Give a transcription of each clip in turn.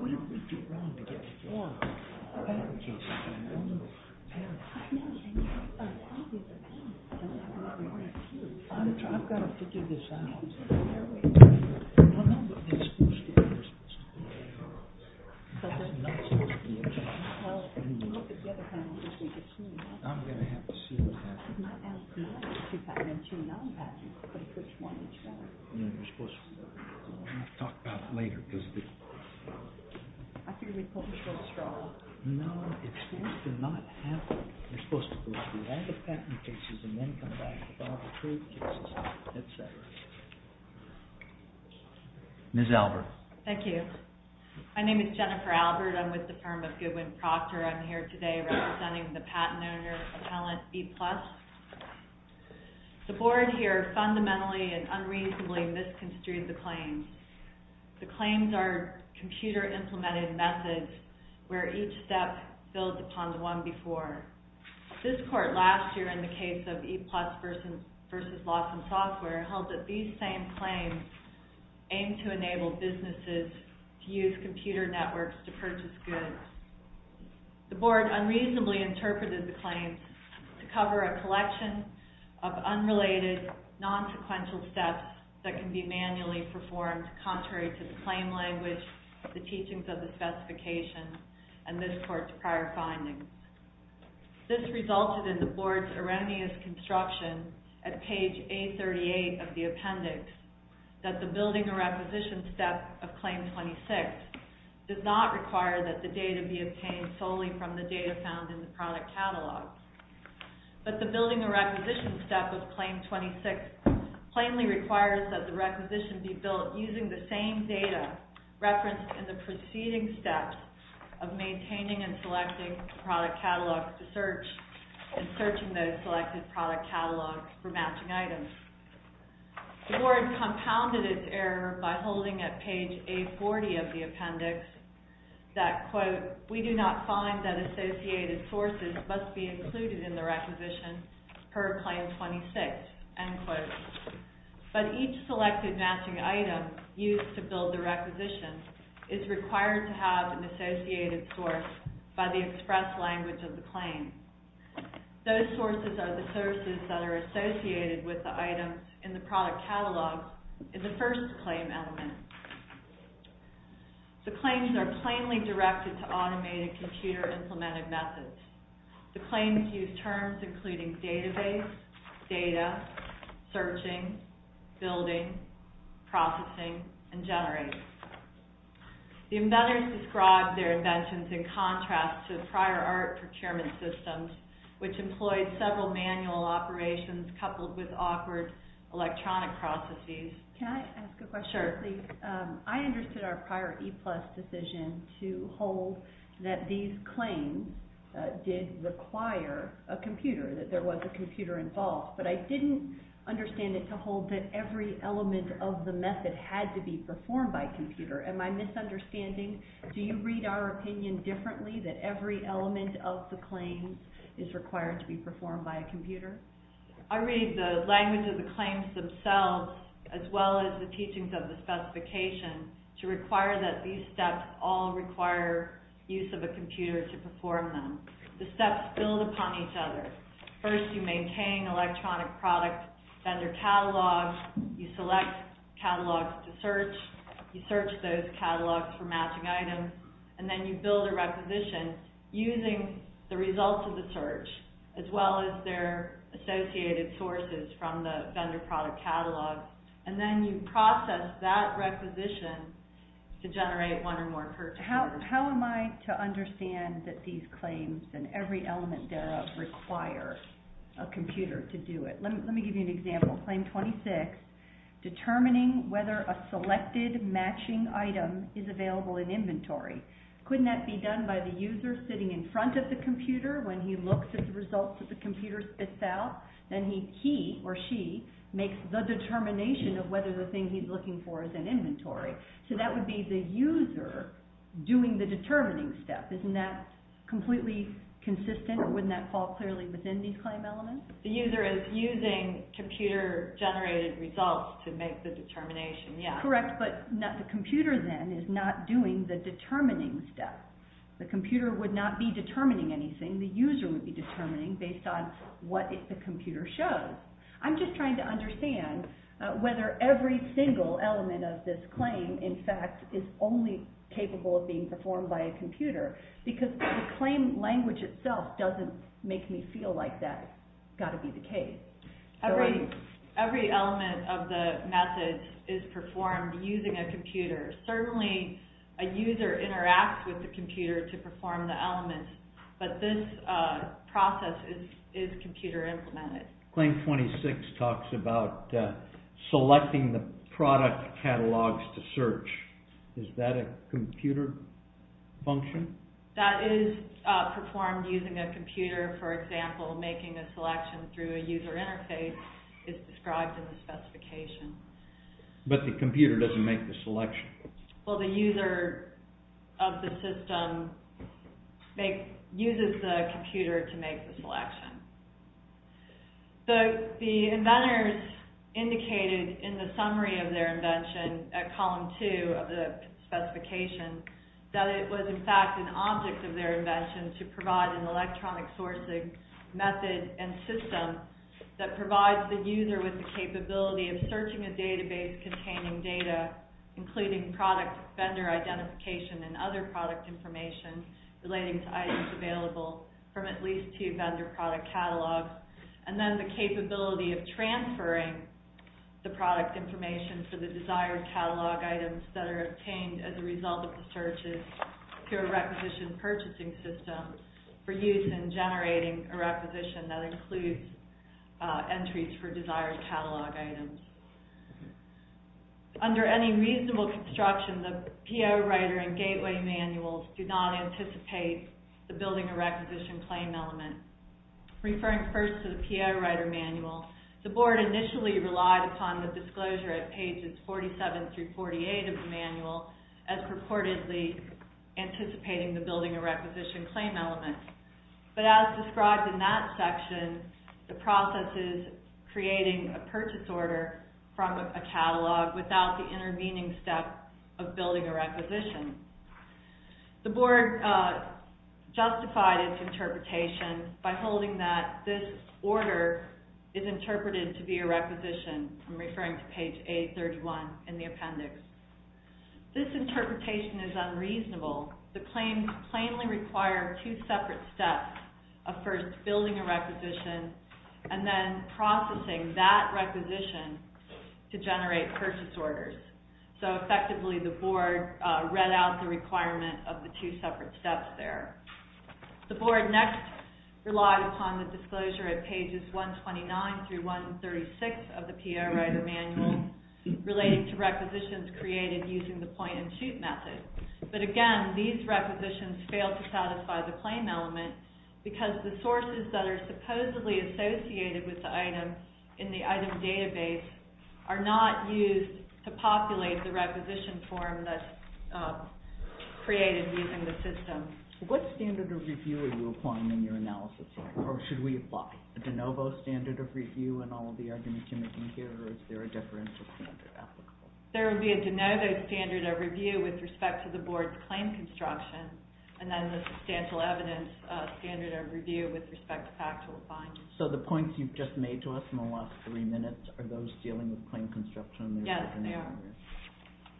What did we do wrong to get this far? I'm going to have to see what happens. Ms. Albert. Thank you. My name is Jennifer Albert. I'm with the firm of Goodwin Proctor. I'm here today representing the patent owner, Appellant EPLUS. The board here fundamentally and unreasonably misconstrued the claims. The claims are computer implemented methods where each step builds upon the one before. This court last year in the case of EPLUS versus Lawson Software held that these same claims aim to enable businesses to use computer networks to purchase goods. The board unreasonably interpreted the claims to cover a collection of unrelated non-sequential steps that can be manually performed contrary to the claim language, the teachings of the specifications, and this court's prior findings. This resulted in the board's erroneous construction at page A38 of the appendix that the building a requisition step of claim 26 does not require that the data be obtained solely from the data found in the product catalog. But the building a requisition step of claim 26 plainly requires that the requisition be built using the same data referenced in the preceding steps of maintaining and selecting product catalogs to search and searching those selected product catalogs for matching items. The board compounded its error by holding at page A40 of the appendix that, quote, we do not find that associated sources must be included in the requisition per claim 26, end quote. But each selected matching item used to build the requisition is required to have an associated source by the express language of the claim. Those sources are the sources that are associated with the items in the product catalog in the first claim element. The claims are plainly directed to automated computer implemented methods. The claims use terms including database, data, searching, building, processing, and generating. The embedders described their inventions in contrast to prior art procurement systems which employed several manual operations coupled with awkward electronic processes. Can I ask a question? Sure. I understood our prior E-plus decision to hold that these claims did require a computer, that there was a computer involved. But I didn't understand it to hold that every element of the method had to be performed by computer. Am I misunderstanding? Do you read our opinion differently that every element of the claim is required to be performed by a computer? I read the language of the claims themselves as well as the teachings of the specification to require that these steps all require use of a computer to perform them. The steps build upon each other. First, you maintain electronic product vendor catalogs. You select catalogs to search. You search those catalogs for matching items. Then you build a requisition using the results of the search as well as their associated sources from the vendor product catalog. Then you process that requisition to generate one or more purchases. How am I to understand that these claims and every element thereof require a computer to do it? Let me give you an example. Claim 26, determining whether a selected matching item is available in inventory. Couldn't that be done by the user sitting in front of the computer when he looks at the results that the computer spits out? Then he or she makes the determination of whether the thing he's looking for is in inventory. So that would be the user doing the determining step. Isn't that completely consistent or wouldn't that fall clearly within these claim elements? The user is using computer-generated results to make the determination, yes. Correct, but the computer then is not doing the determining step. The computer would not be determining anything. The user would be determining based on what the computer shows. I'm just trying to understand whether every single element of this claim, in fact, is only capable of being performed by a computer because the claim language itself doesn't make me feel like that's got to be the case. Every element of the method is performed using a computer. Certainly, a user interacts with the computer to perform the element, but this process is computer-implemented. Claim 26 talks about selecting the product catalogs to search. Is that a computer function? That is performed using a computer. For example, making a selection through a user interface is described in the specification. But the computer doesn't make the selection. Well, the user of the system uses the computer to make the selection. The inventors indicated in the summary of their invention at column 2 of the specification that it was, in fact, an object of their invention to provide an electronic sourcing method and system that provides the user with the capability of searching a database containing data, including product vendor identification and other product information relating to items available from at least two vendor product catalogs, and then the capability of transferring the product information for the desired catalog items that are obtained as a result of the searches through a requisition purchasing system for use in generating a requisition that includes entries for desired catalog items. Under any reasonable construction, the PO Writer and Gateway Manuals do not anticipate the building a requisition claim element. Referring first to the PO Writer Manual, the Board initially relied upon the disclosure at pages 47 through 48 of the manual as purportedly anticipating the building a requisition claim element. But as described in that section, the process is creating a purchase order from a catalog without the intervening step of building a requisition. The Board justified its interpretation by holding that this order is interpreted to be a requisition. I'm referring to page 831 in the appendix. This interpretation is unreasonable. The claims plainly require two separate steps of first building a requisition and then processing that requisition to generate purchase orders. So effectively, the Board read out the requirement of the two separate steps there. The Board next relied upon the disclosure at pages 129 through 136 of the PO Writer Manual relating to requisitions created using the point-and-shoot method. But again, these requisitions fail to satisfy the claim element because the sources that are supposedly associated with the item in the item database are not used to populate the requisition form that's created using the system. What standard of review are you applying in your analysis? Or should we apply a de novo standard of review in all of the arguments you're making here? Or is there a differential standard applicable? There would be a de novo standard of review with respect to the Board's claim construction and then the substantial evidence standard of review with respect to factual findings. So the points you've just made to us in the last three minutes are those dealing with claim construction? Yes, they are.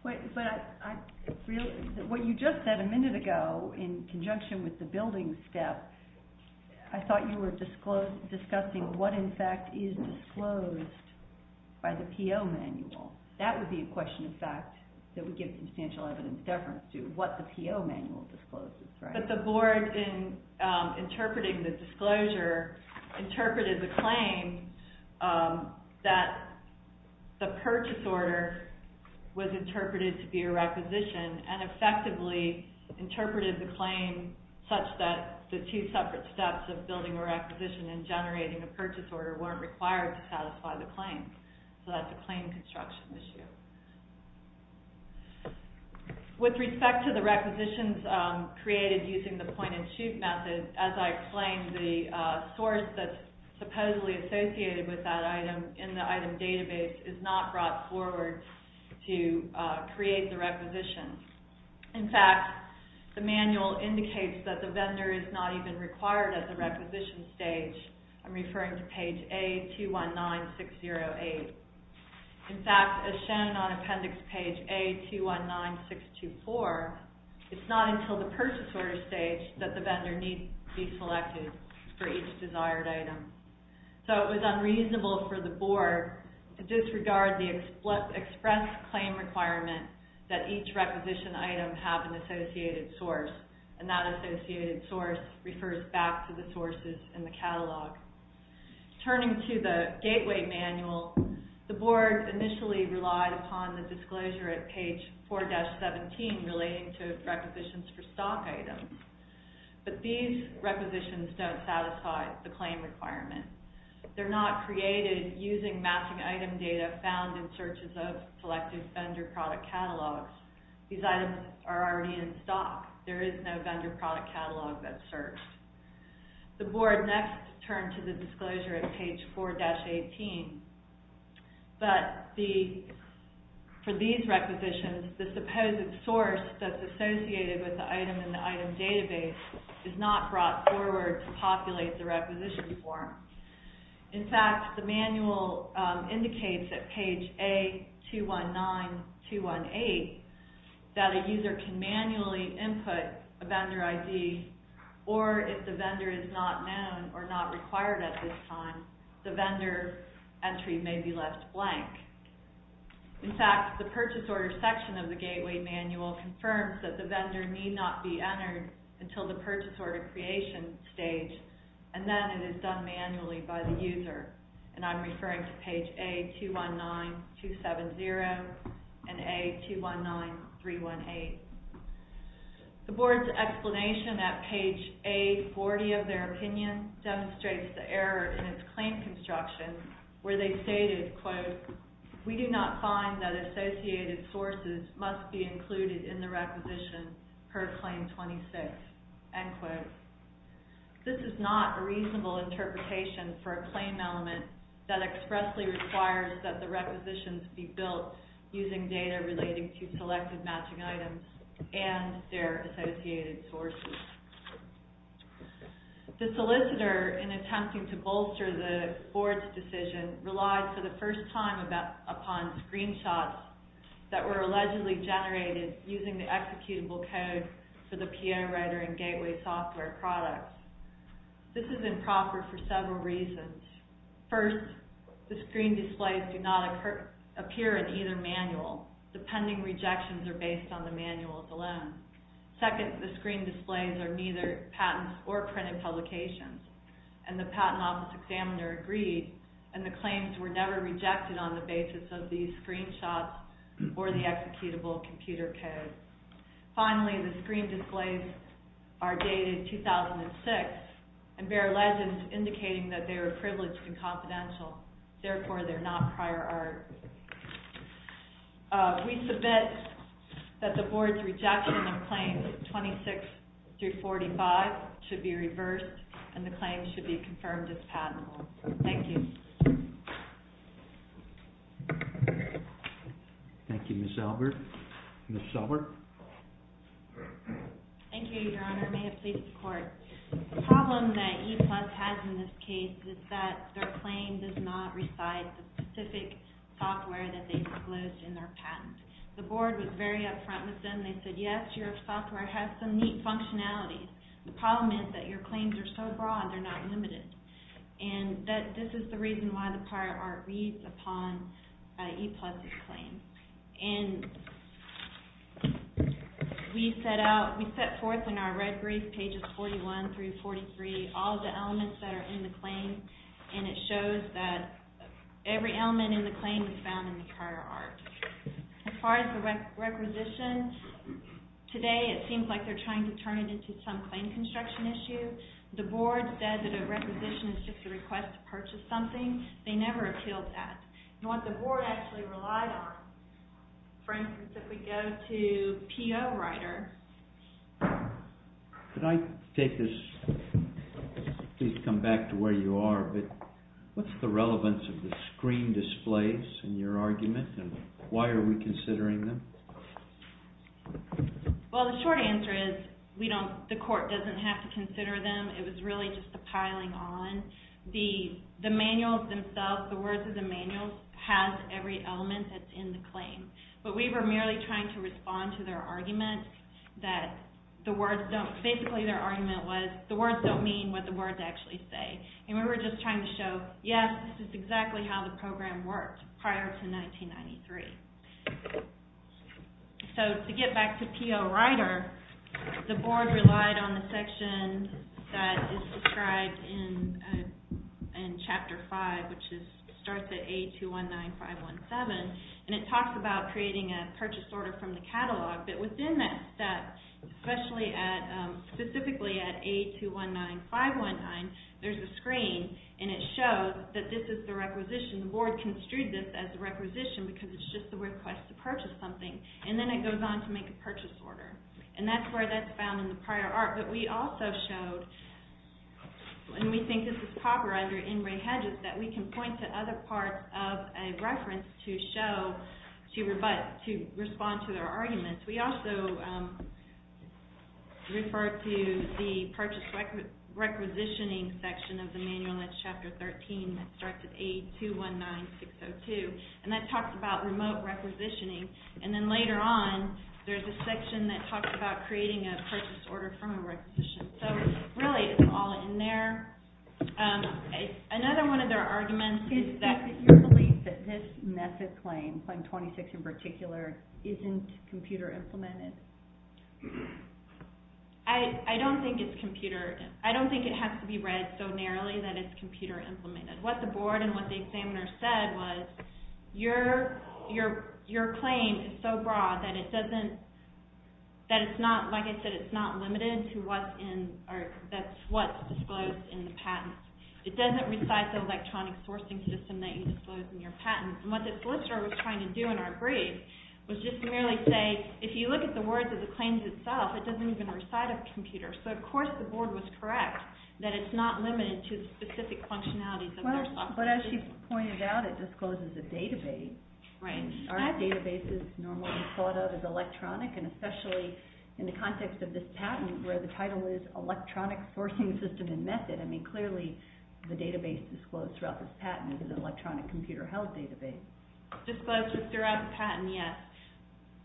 What you just said a minute ago in conjunction with the building step, I thought you were discussing what, in fact, is disclosed by the PO Manual. That would be a question, in fact, that would give substantial evidence deference to what the PO Manual discloses, right? But the Board, in interpreting the disclosure, interpreted the claim that the purchase order was interpreted to be a requisition and effectively interpreted the claim such that the two separate steps of building a requisition and generating a purchase order weren't required to satisfy the claim. So that's a claim construction issue. With respect to the requisitions created using the point-and-shoot method, as I explained, the source that's supposedly associated with that item in the item database is not brought forward to create the requisition. In fact, the Manual indicates that the vendor is not even required at the requisition stage. I'm referring to page A219608. In fact, as shown on appendix page A219624, it's not until the purchase order stage that the vendor needs to be selected for each desired item. So it was unreasonable for the Board to disregard the express claim requirement that each requisition item have an associated source, and that associated source refers back to the sources in the catalog. Turning to the Gateway Manual, the Board initially relied upon the disclosure at page 4-17 relating to requisitions for stock items. But these requisitions don't satisfy the claim requirement. They're not created using matching item data found in searches of selected vendor product catalogs. These items are already in stock. There is no vendor product catalog that's searched. The Board next turned to the disclosure at page 4-18. But for these requisitions, the supposed source that's associated with the item in the item database is not brought forward to populate the requisition form. In fact, the Manual indicates at page A219218 that a user can manually input a vendor ID, or if the vendor is not known or not required at this time, the vendor entry may be left blank. In fact, the purchase order section of the Gateway Manual confirms that the vendor need not be entered until the purchase order creation stage, and then it is done manually by the user. And I'm referring to page A219270 and A219318. The Board's explanation at page A40 of their opinion demonstrates the error in its claim construction, where they stated, quote, we do not find that associated sources must be included in the requisition per Claim 26, end quote. This is not a reasonable interpretation for a claim element that expressly requires that the requisitions be built using data relating to selected matching items and their associated sources. The solicitor, in attempting to bolster the Board's decision, relied for the first time upon screenshots that were allegedly generated using the executable code for the PI Writer and Gateway software products. This is improper for several reasons. First, the screen displays do not appear in either manual. The pending rejections are based on the manuals alone. Second, the screen displays are neither patents or printed publications, and the Patent Office Examiner agreed, and the claims were never rejected on the basis of these screenshots or the executable computer code. Finally, the screen displays are dated 2006 and bear legends indicating that they are privileged and confidential. Therefore, they are not prior art. We submit that the Board's rejection of Claims 26-45 should be reversed and the claims should be confirmed as patentable. Thank you. Thank you, Ms. Elbert. Ms. Elbert? Thank you, Your Honor. May it please the Court. The problem that ePlus has in this case is that their claim does not reside in the specific software that they disclosed in their patent. The Board was very upfront with them. They said, yes, your software has some neat functionalities. The problem is that your claims are so broad, they're not limited. And this is the reason why the prior art reads upon ePlus' claim. And we set forth in our red brief, pages 41 through 43, all the elements that are in the claim, and it shows that every element in the claim is found in the prior art. As far as the requisition, today it seems like they're trying to turn it into some claim construction issue. The Board said that a requisition is just a request to purchase something. They never appealed that. And what the Board actually relied on, for instance, if we go to P.O. Ryder... Could I take this? Please come back to where you are, but what's the relevance of the screen displays in your argument, and why are we considering them? Well, the short answer is, the court doesn't have to consider them. It was really just the piling on. The manuals themselves, the words of the manuals, have every element that's in the claim. But we were merely trying to respond to their argument that the words don't... Basically, their argument was, the words don't mean what the words actually say. And we were just trying to show, yes, this is exactly how the program worked prior to 1993. So, to get back to P.O. Ryder, the Board relied on the section that is described in Chapter 5, which starts at A219517, and it talks about creating a purchase order from the catalog. But within that step, specifically at A219519, there's a screen, and it shows that this is the requisition. The Board construed this as the requisition because it's just the request to purchase something. And then it goes on to make a purchase order. And that's where that's found in the prior art. But we also showed, and we think this is proper under Ingrate Hedges, that we can point to other parts of a reference to show, to respond to their arguments. We also refer to the purchase requisitioning section of the manual that's Chapter 13, that starts at A219602. And that talks about remote requisitioning. And then later on, there's a section that talks about creating a purchase order from a requisition. So, really, it's all in there. Another one of their arguments is that... Do you believe that this method claim, Claim 26 in particular, isn't computer implemented? I don't think it's computer... I don't think it has to be read so narrowly that it's computer implemented. What the board and what the examiner said was, your claim is so broad that it doesn't... that it's not, like I said, it's not limited to what's in... that's what's disclosed in the patent. It doesn't recite the electronic sourcing system that you disclose in your patent. And what the solicitor was trying to do in our brief was just merely say, if you look at the words of the claims itself, it doesn't even recite a computer. So, of course, the board was correct that it's not limited to specific functionalities. Well, but as she pointed out, it discloses a database. Right. Our database is normally thought of as electronic and especially in the context of this patent where the title is Electronic Sourcing System and Method. I mean, clearly, the database disclosed throughout this patent is an electronic computer-held database. Disclosed throughout the patent, yes.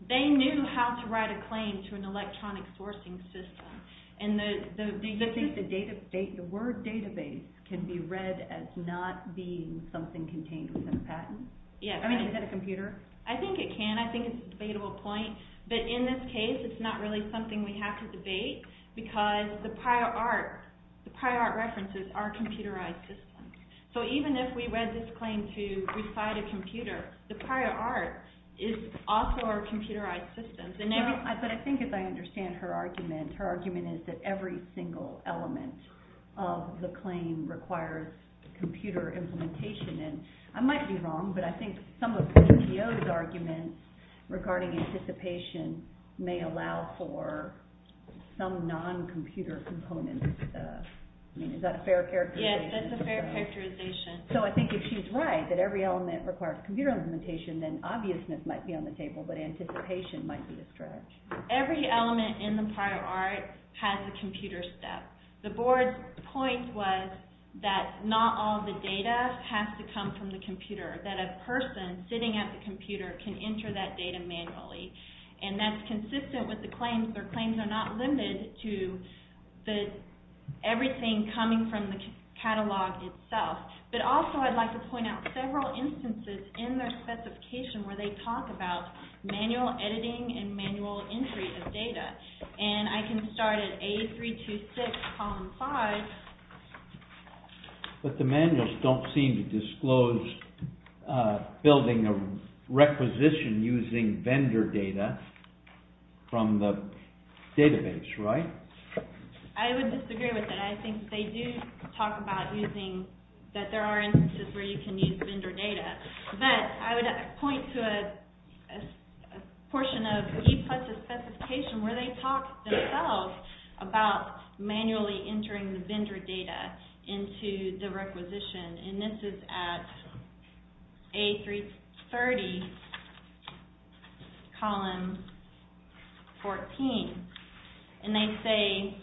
They knew how to write a claim to an electronic sourcing system. Do you think the word database can be read as not being something contained within a patent? Yes. I mean, is that a computer? I think it can. I think it's a debatable point. But in this case, it's not really something we have to debate because the prior art, the prior art references are computerized systems. So even if we read this claim to recite a computer, the prior art is also a computerized system. But I think as I understand her argument, her argument is that every single element of the claim requires computer implementation. And I might be wrong, but I think some of CTO's arguments regarding anticipation may allow for some non-computer components. I mean, is that a fair characterization? Yes, that's a fair characterization. So I think if she's right, that every element requires computer implementation, then obviousness might be on the table, but anticipation might be a stretch. Every element in the prior art has a computer step. The board's point was that not all the data has to come from the computer, that a person sitting at the computer can enter that data manually. And that's consistent with the claims. Their claims are not limited to everything coming from the catalog itself. But also I'd like to point out several instances in their specification where they talk about manual editing and manual entry of data. And I can start at A326, column 5. But the manuals don't seem to disclose building a requisition using vendor data from the database, right? I would disagree with that. I think they do talk about using... But I would point to a portion of E-Plus' specification where they talk themselves about manually entering the vendor data into the requisition. And this is at A330, column 14. And they say,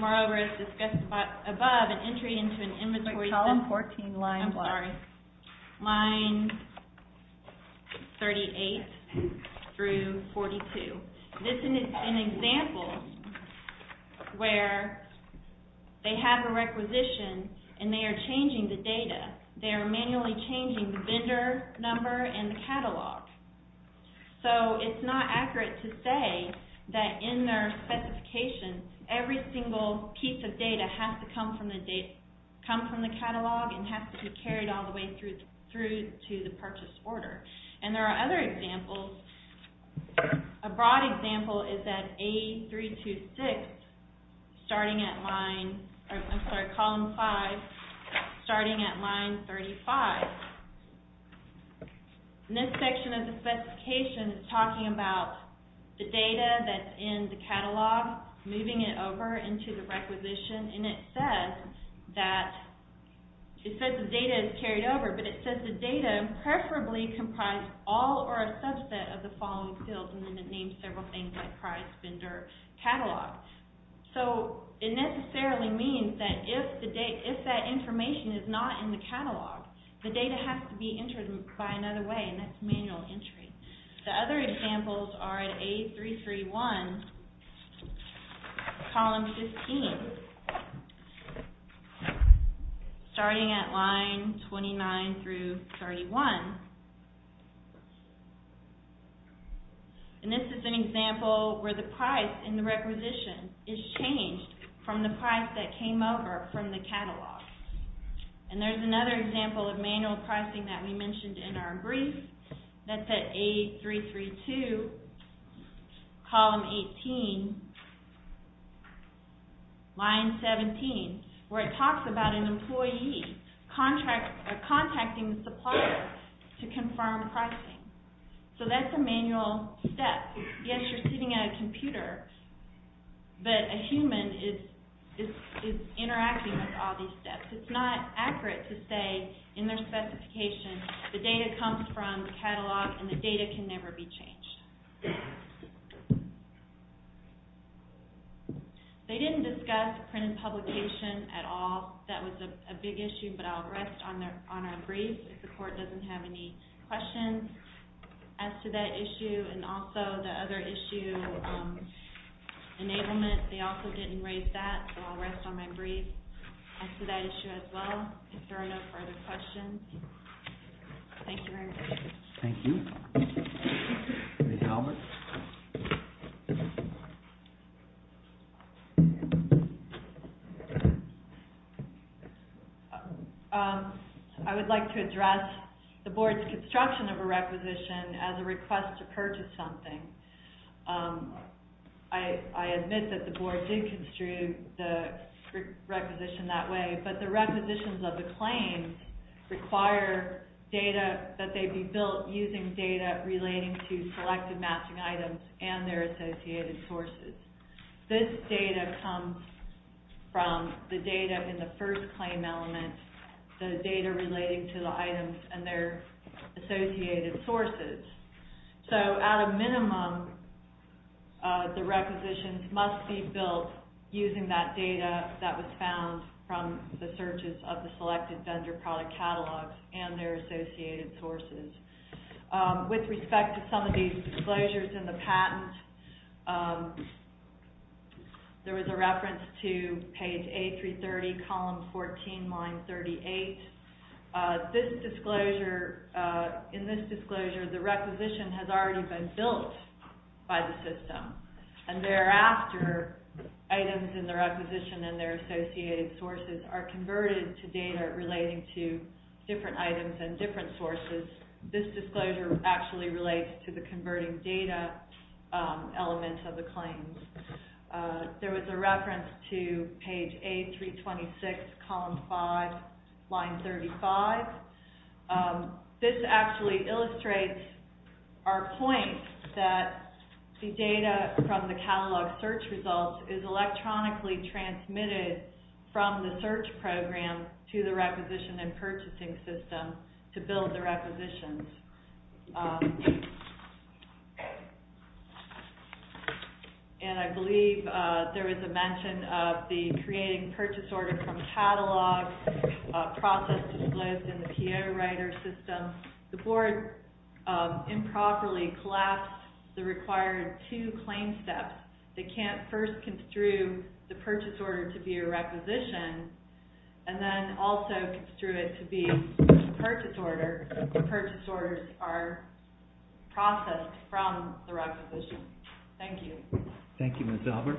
moreover, as discussed above, an entry into an inventory... Line 38 through 42. This is an example where they have a requisition and they are changing the data. They are manually changing the vendor number and the catalog. So it's not accurate to say that in their specification every single piece of data has to come from the catalog and has to be carried all the way through to the purchase order. And there are other examples. A broad example is at A326, starting at line... I'm sorry, column 5, starting at line 35. And this section of the specification is talking about the data that's in the catalog, moving it over into the requisition. And it says that the data is carried over, but it says the data preferably comprise all or a subset of the following fields, and then it names several things like price, vendor, catalog. So it necessarily means that if that information is not in the catalog, the data has to be entered by another way, and that's manual entry. The other examples are at A331, column 15, starting at line 29 through 31. And this is an example where the price in the requisition is changed from the price that came over from the catalog. And there's another example of manual pricing that we mentioned in our brief. That's at A332, column 18, line 17, where it talks about an employee contacting the supplier to confirm pricing. So that's a manual step. Yes, you're sitting at a computer, but a human is interacting with all these steps. It's not accurate to say in their specification the data comes from the catalog and the data can never be changed. They didn't discuss print and publication at all. That was a big issue, but I'll rest on our brief if the Court doesn't have any questions. As to that issue and also the other issue, enablement, they also didn't raise that, so I'll rest on my brief as to that issue as well if there are no further questions. Thank you very much. Thank you. Ms. Albert? I would like to address the Board's construction of a requisition as a request to purchase something. I admit that the Board did construe the requisition that way, but the requisitions of the claims require that they be built using data relating to selected matching items and their associated sources. This data comes from the data in the first claim element, the data relating to the items and their associated sources. So, at a minimum, the requisitions must be built using that data that was found from the searches of the selected vendor product catalogs and their associated sources. With respect to some of these disclosures in the patent, there was a reference to page A330, column 14, line 38. In this disclosure, the requisition has already been built by the system, and thereafter, items in the requisition and their associated sources are converted to data relating to different items and different sources. This disclosure actually relates to the converting data element of the claims. There was a reference to page A326, column 5, line 35. This actually illustrates our point that the data from the catalog search results is electronically transmitted from the search program to the requisition and purchasing system to build the requisitions. And I believe there was a mention of the creating purchase order from catalog process disclosed in the PO writer system. The board improperly collapsed the required two claim steps. They can't first construe the purchase order to be a requisition, and then also construe it to be a purchase order if the purchase orders are processed from the requisition. Thank you. Thank you, Ms. Albert.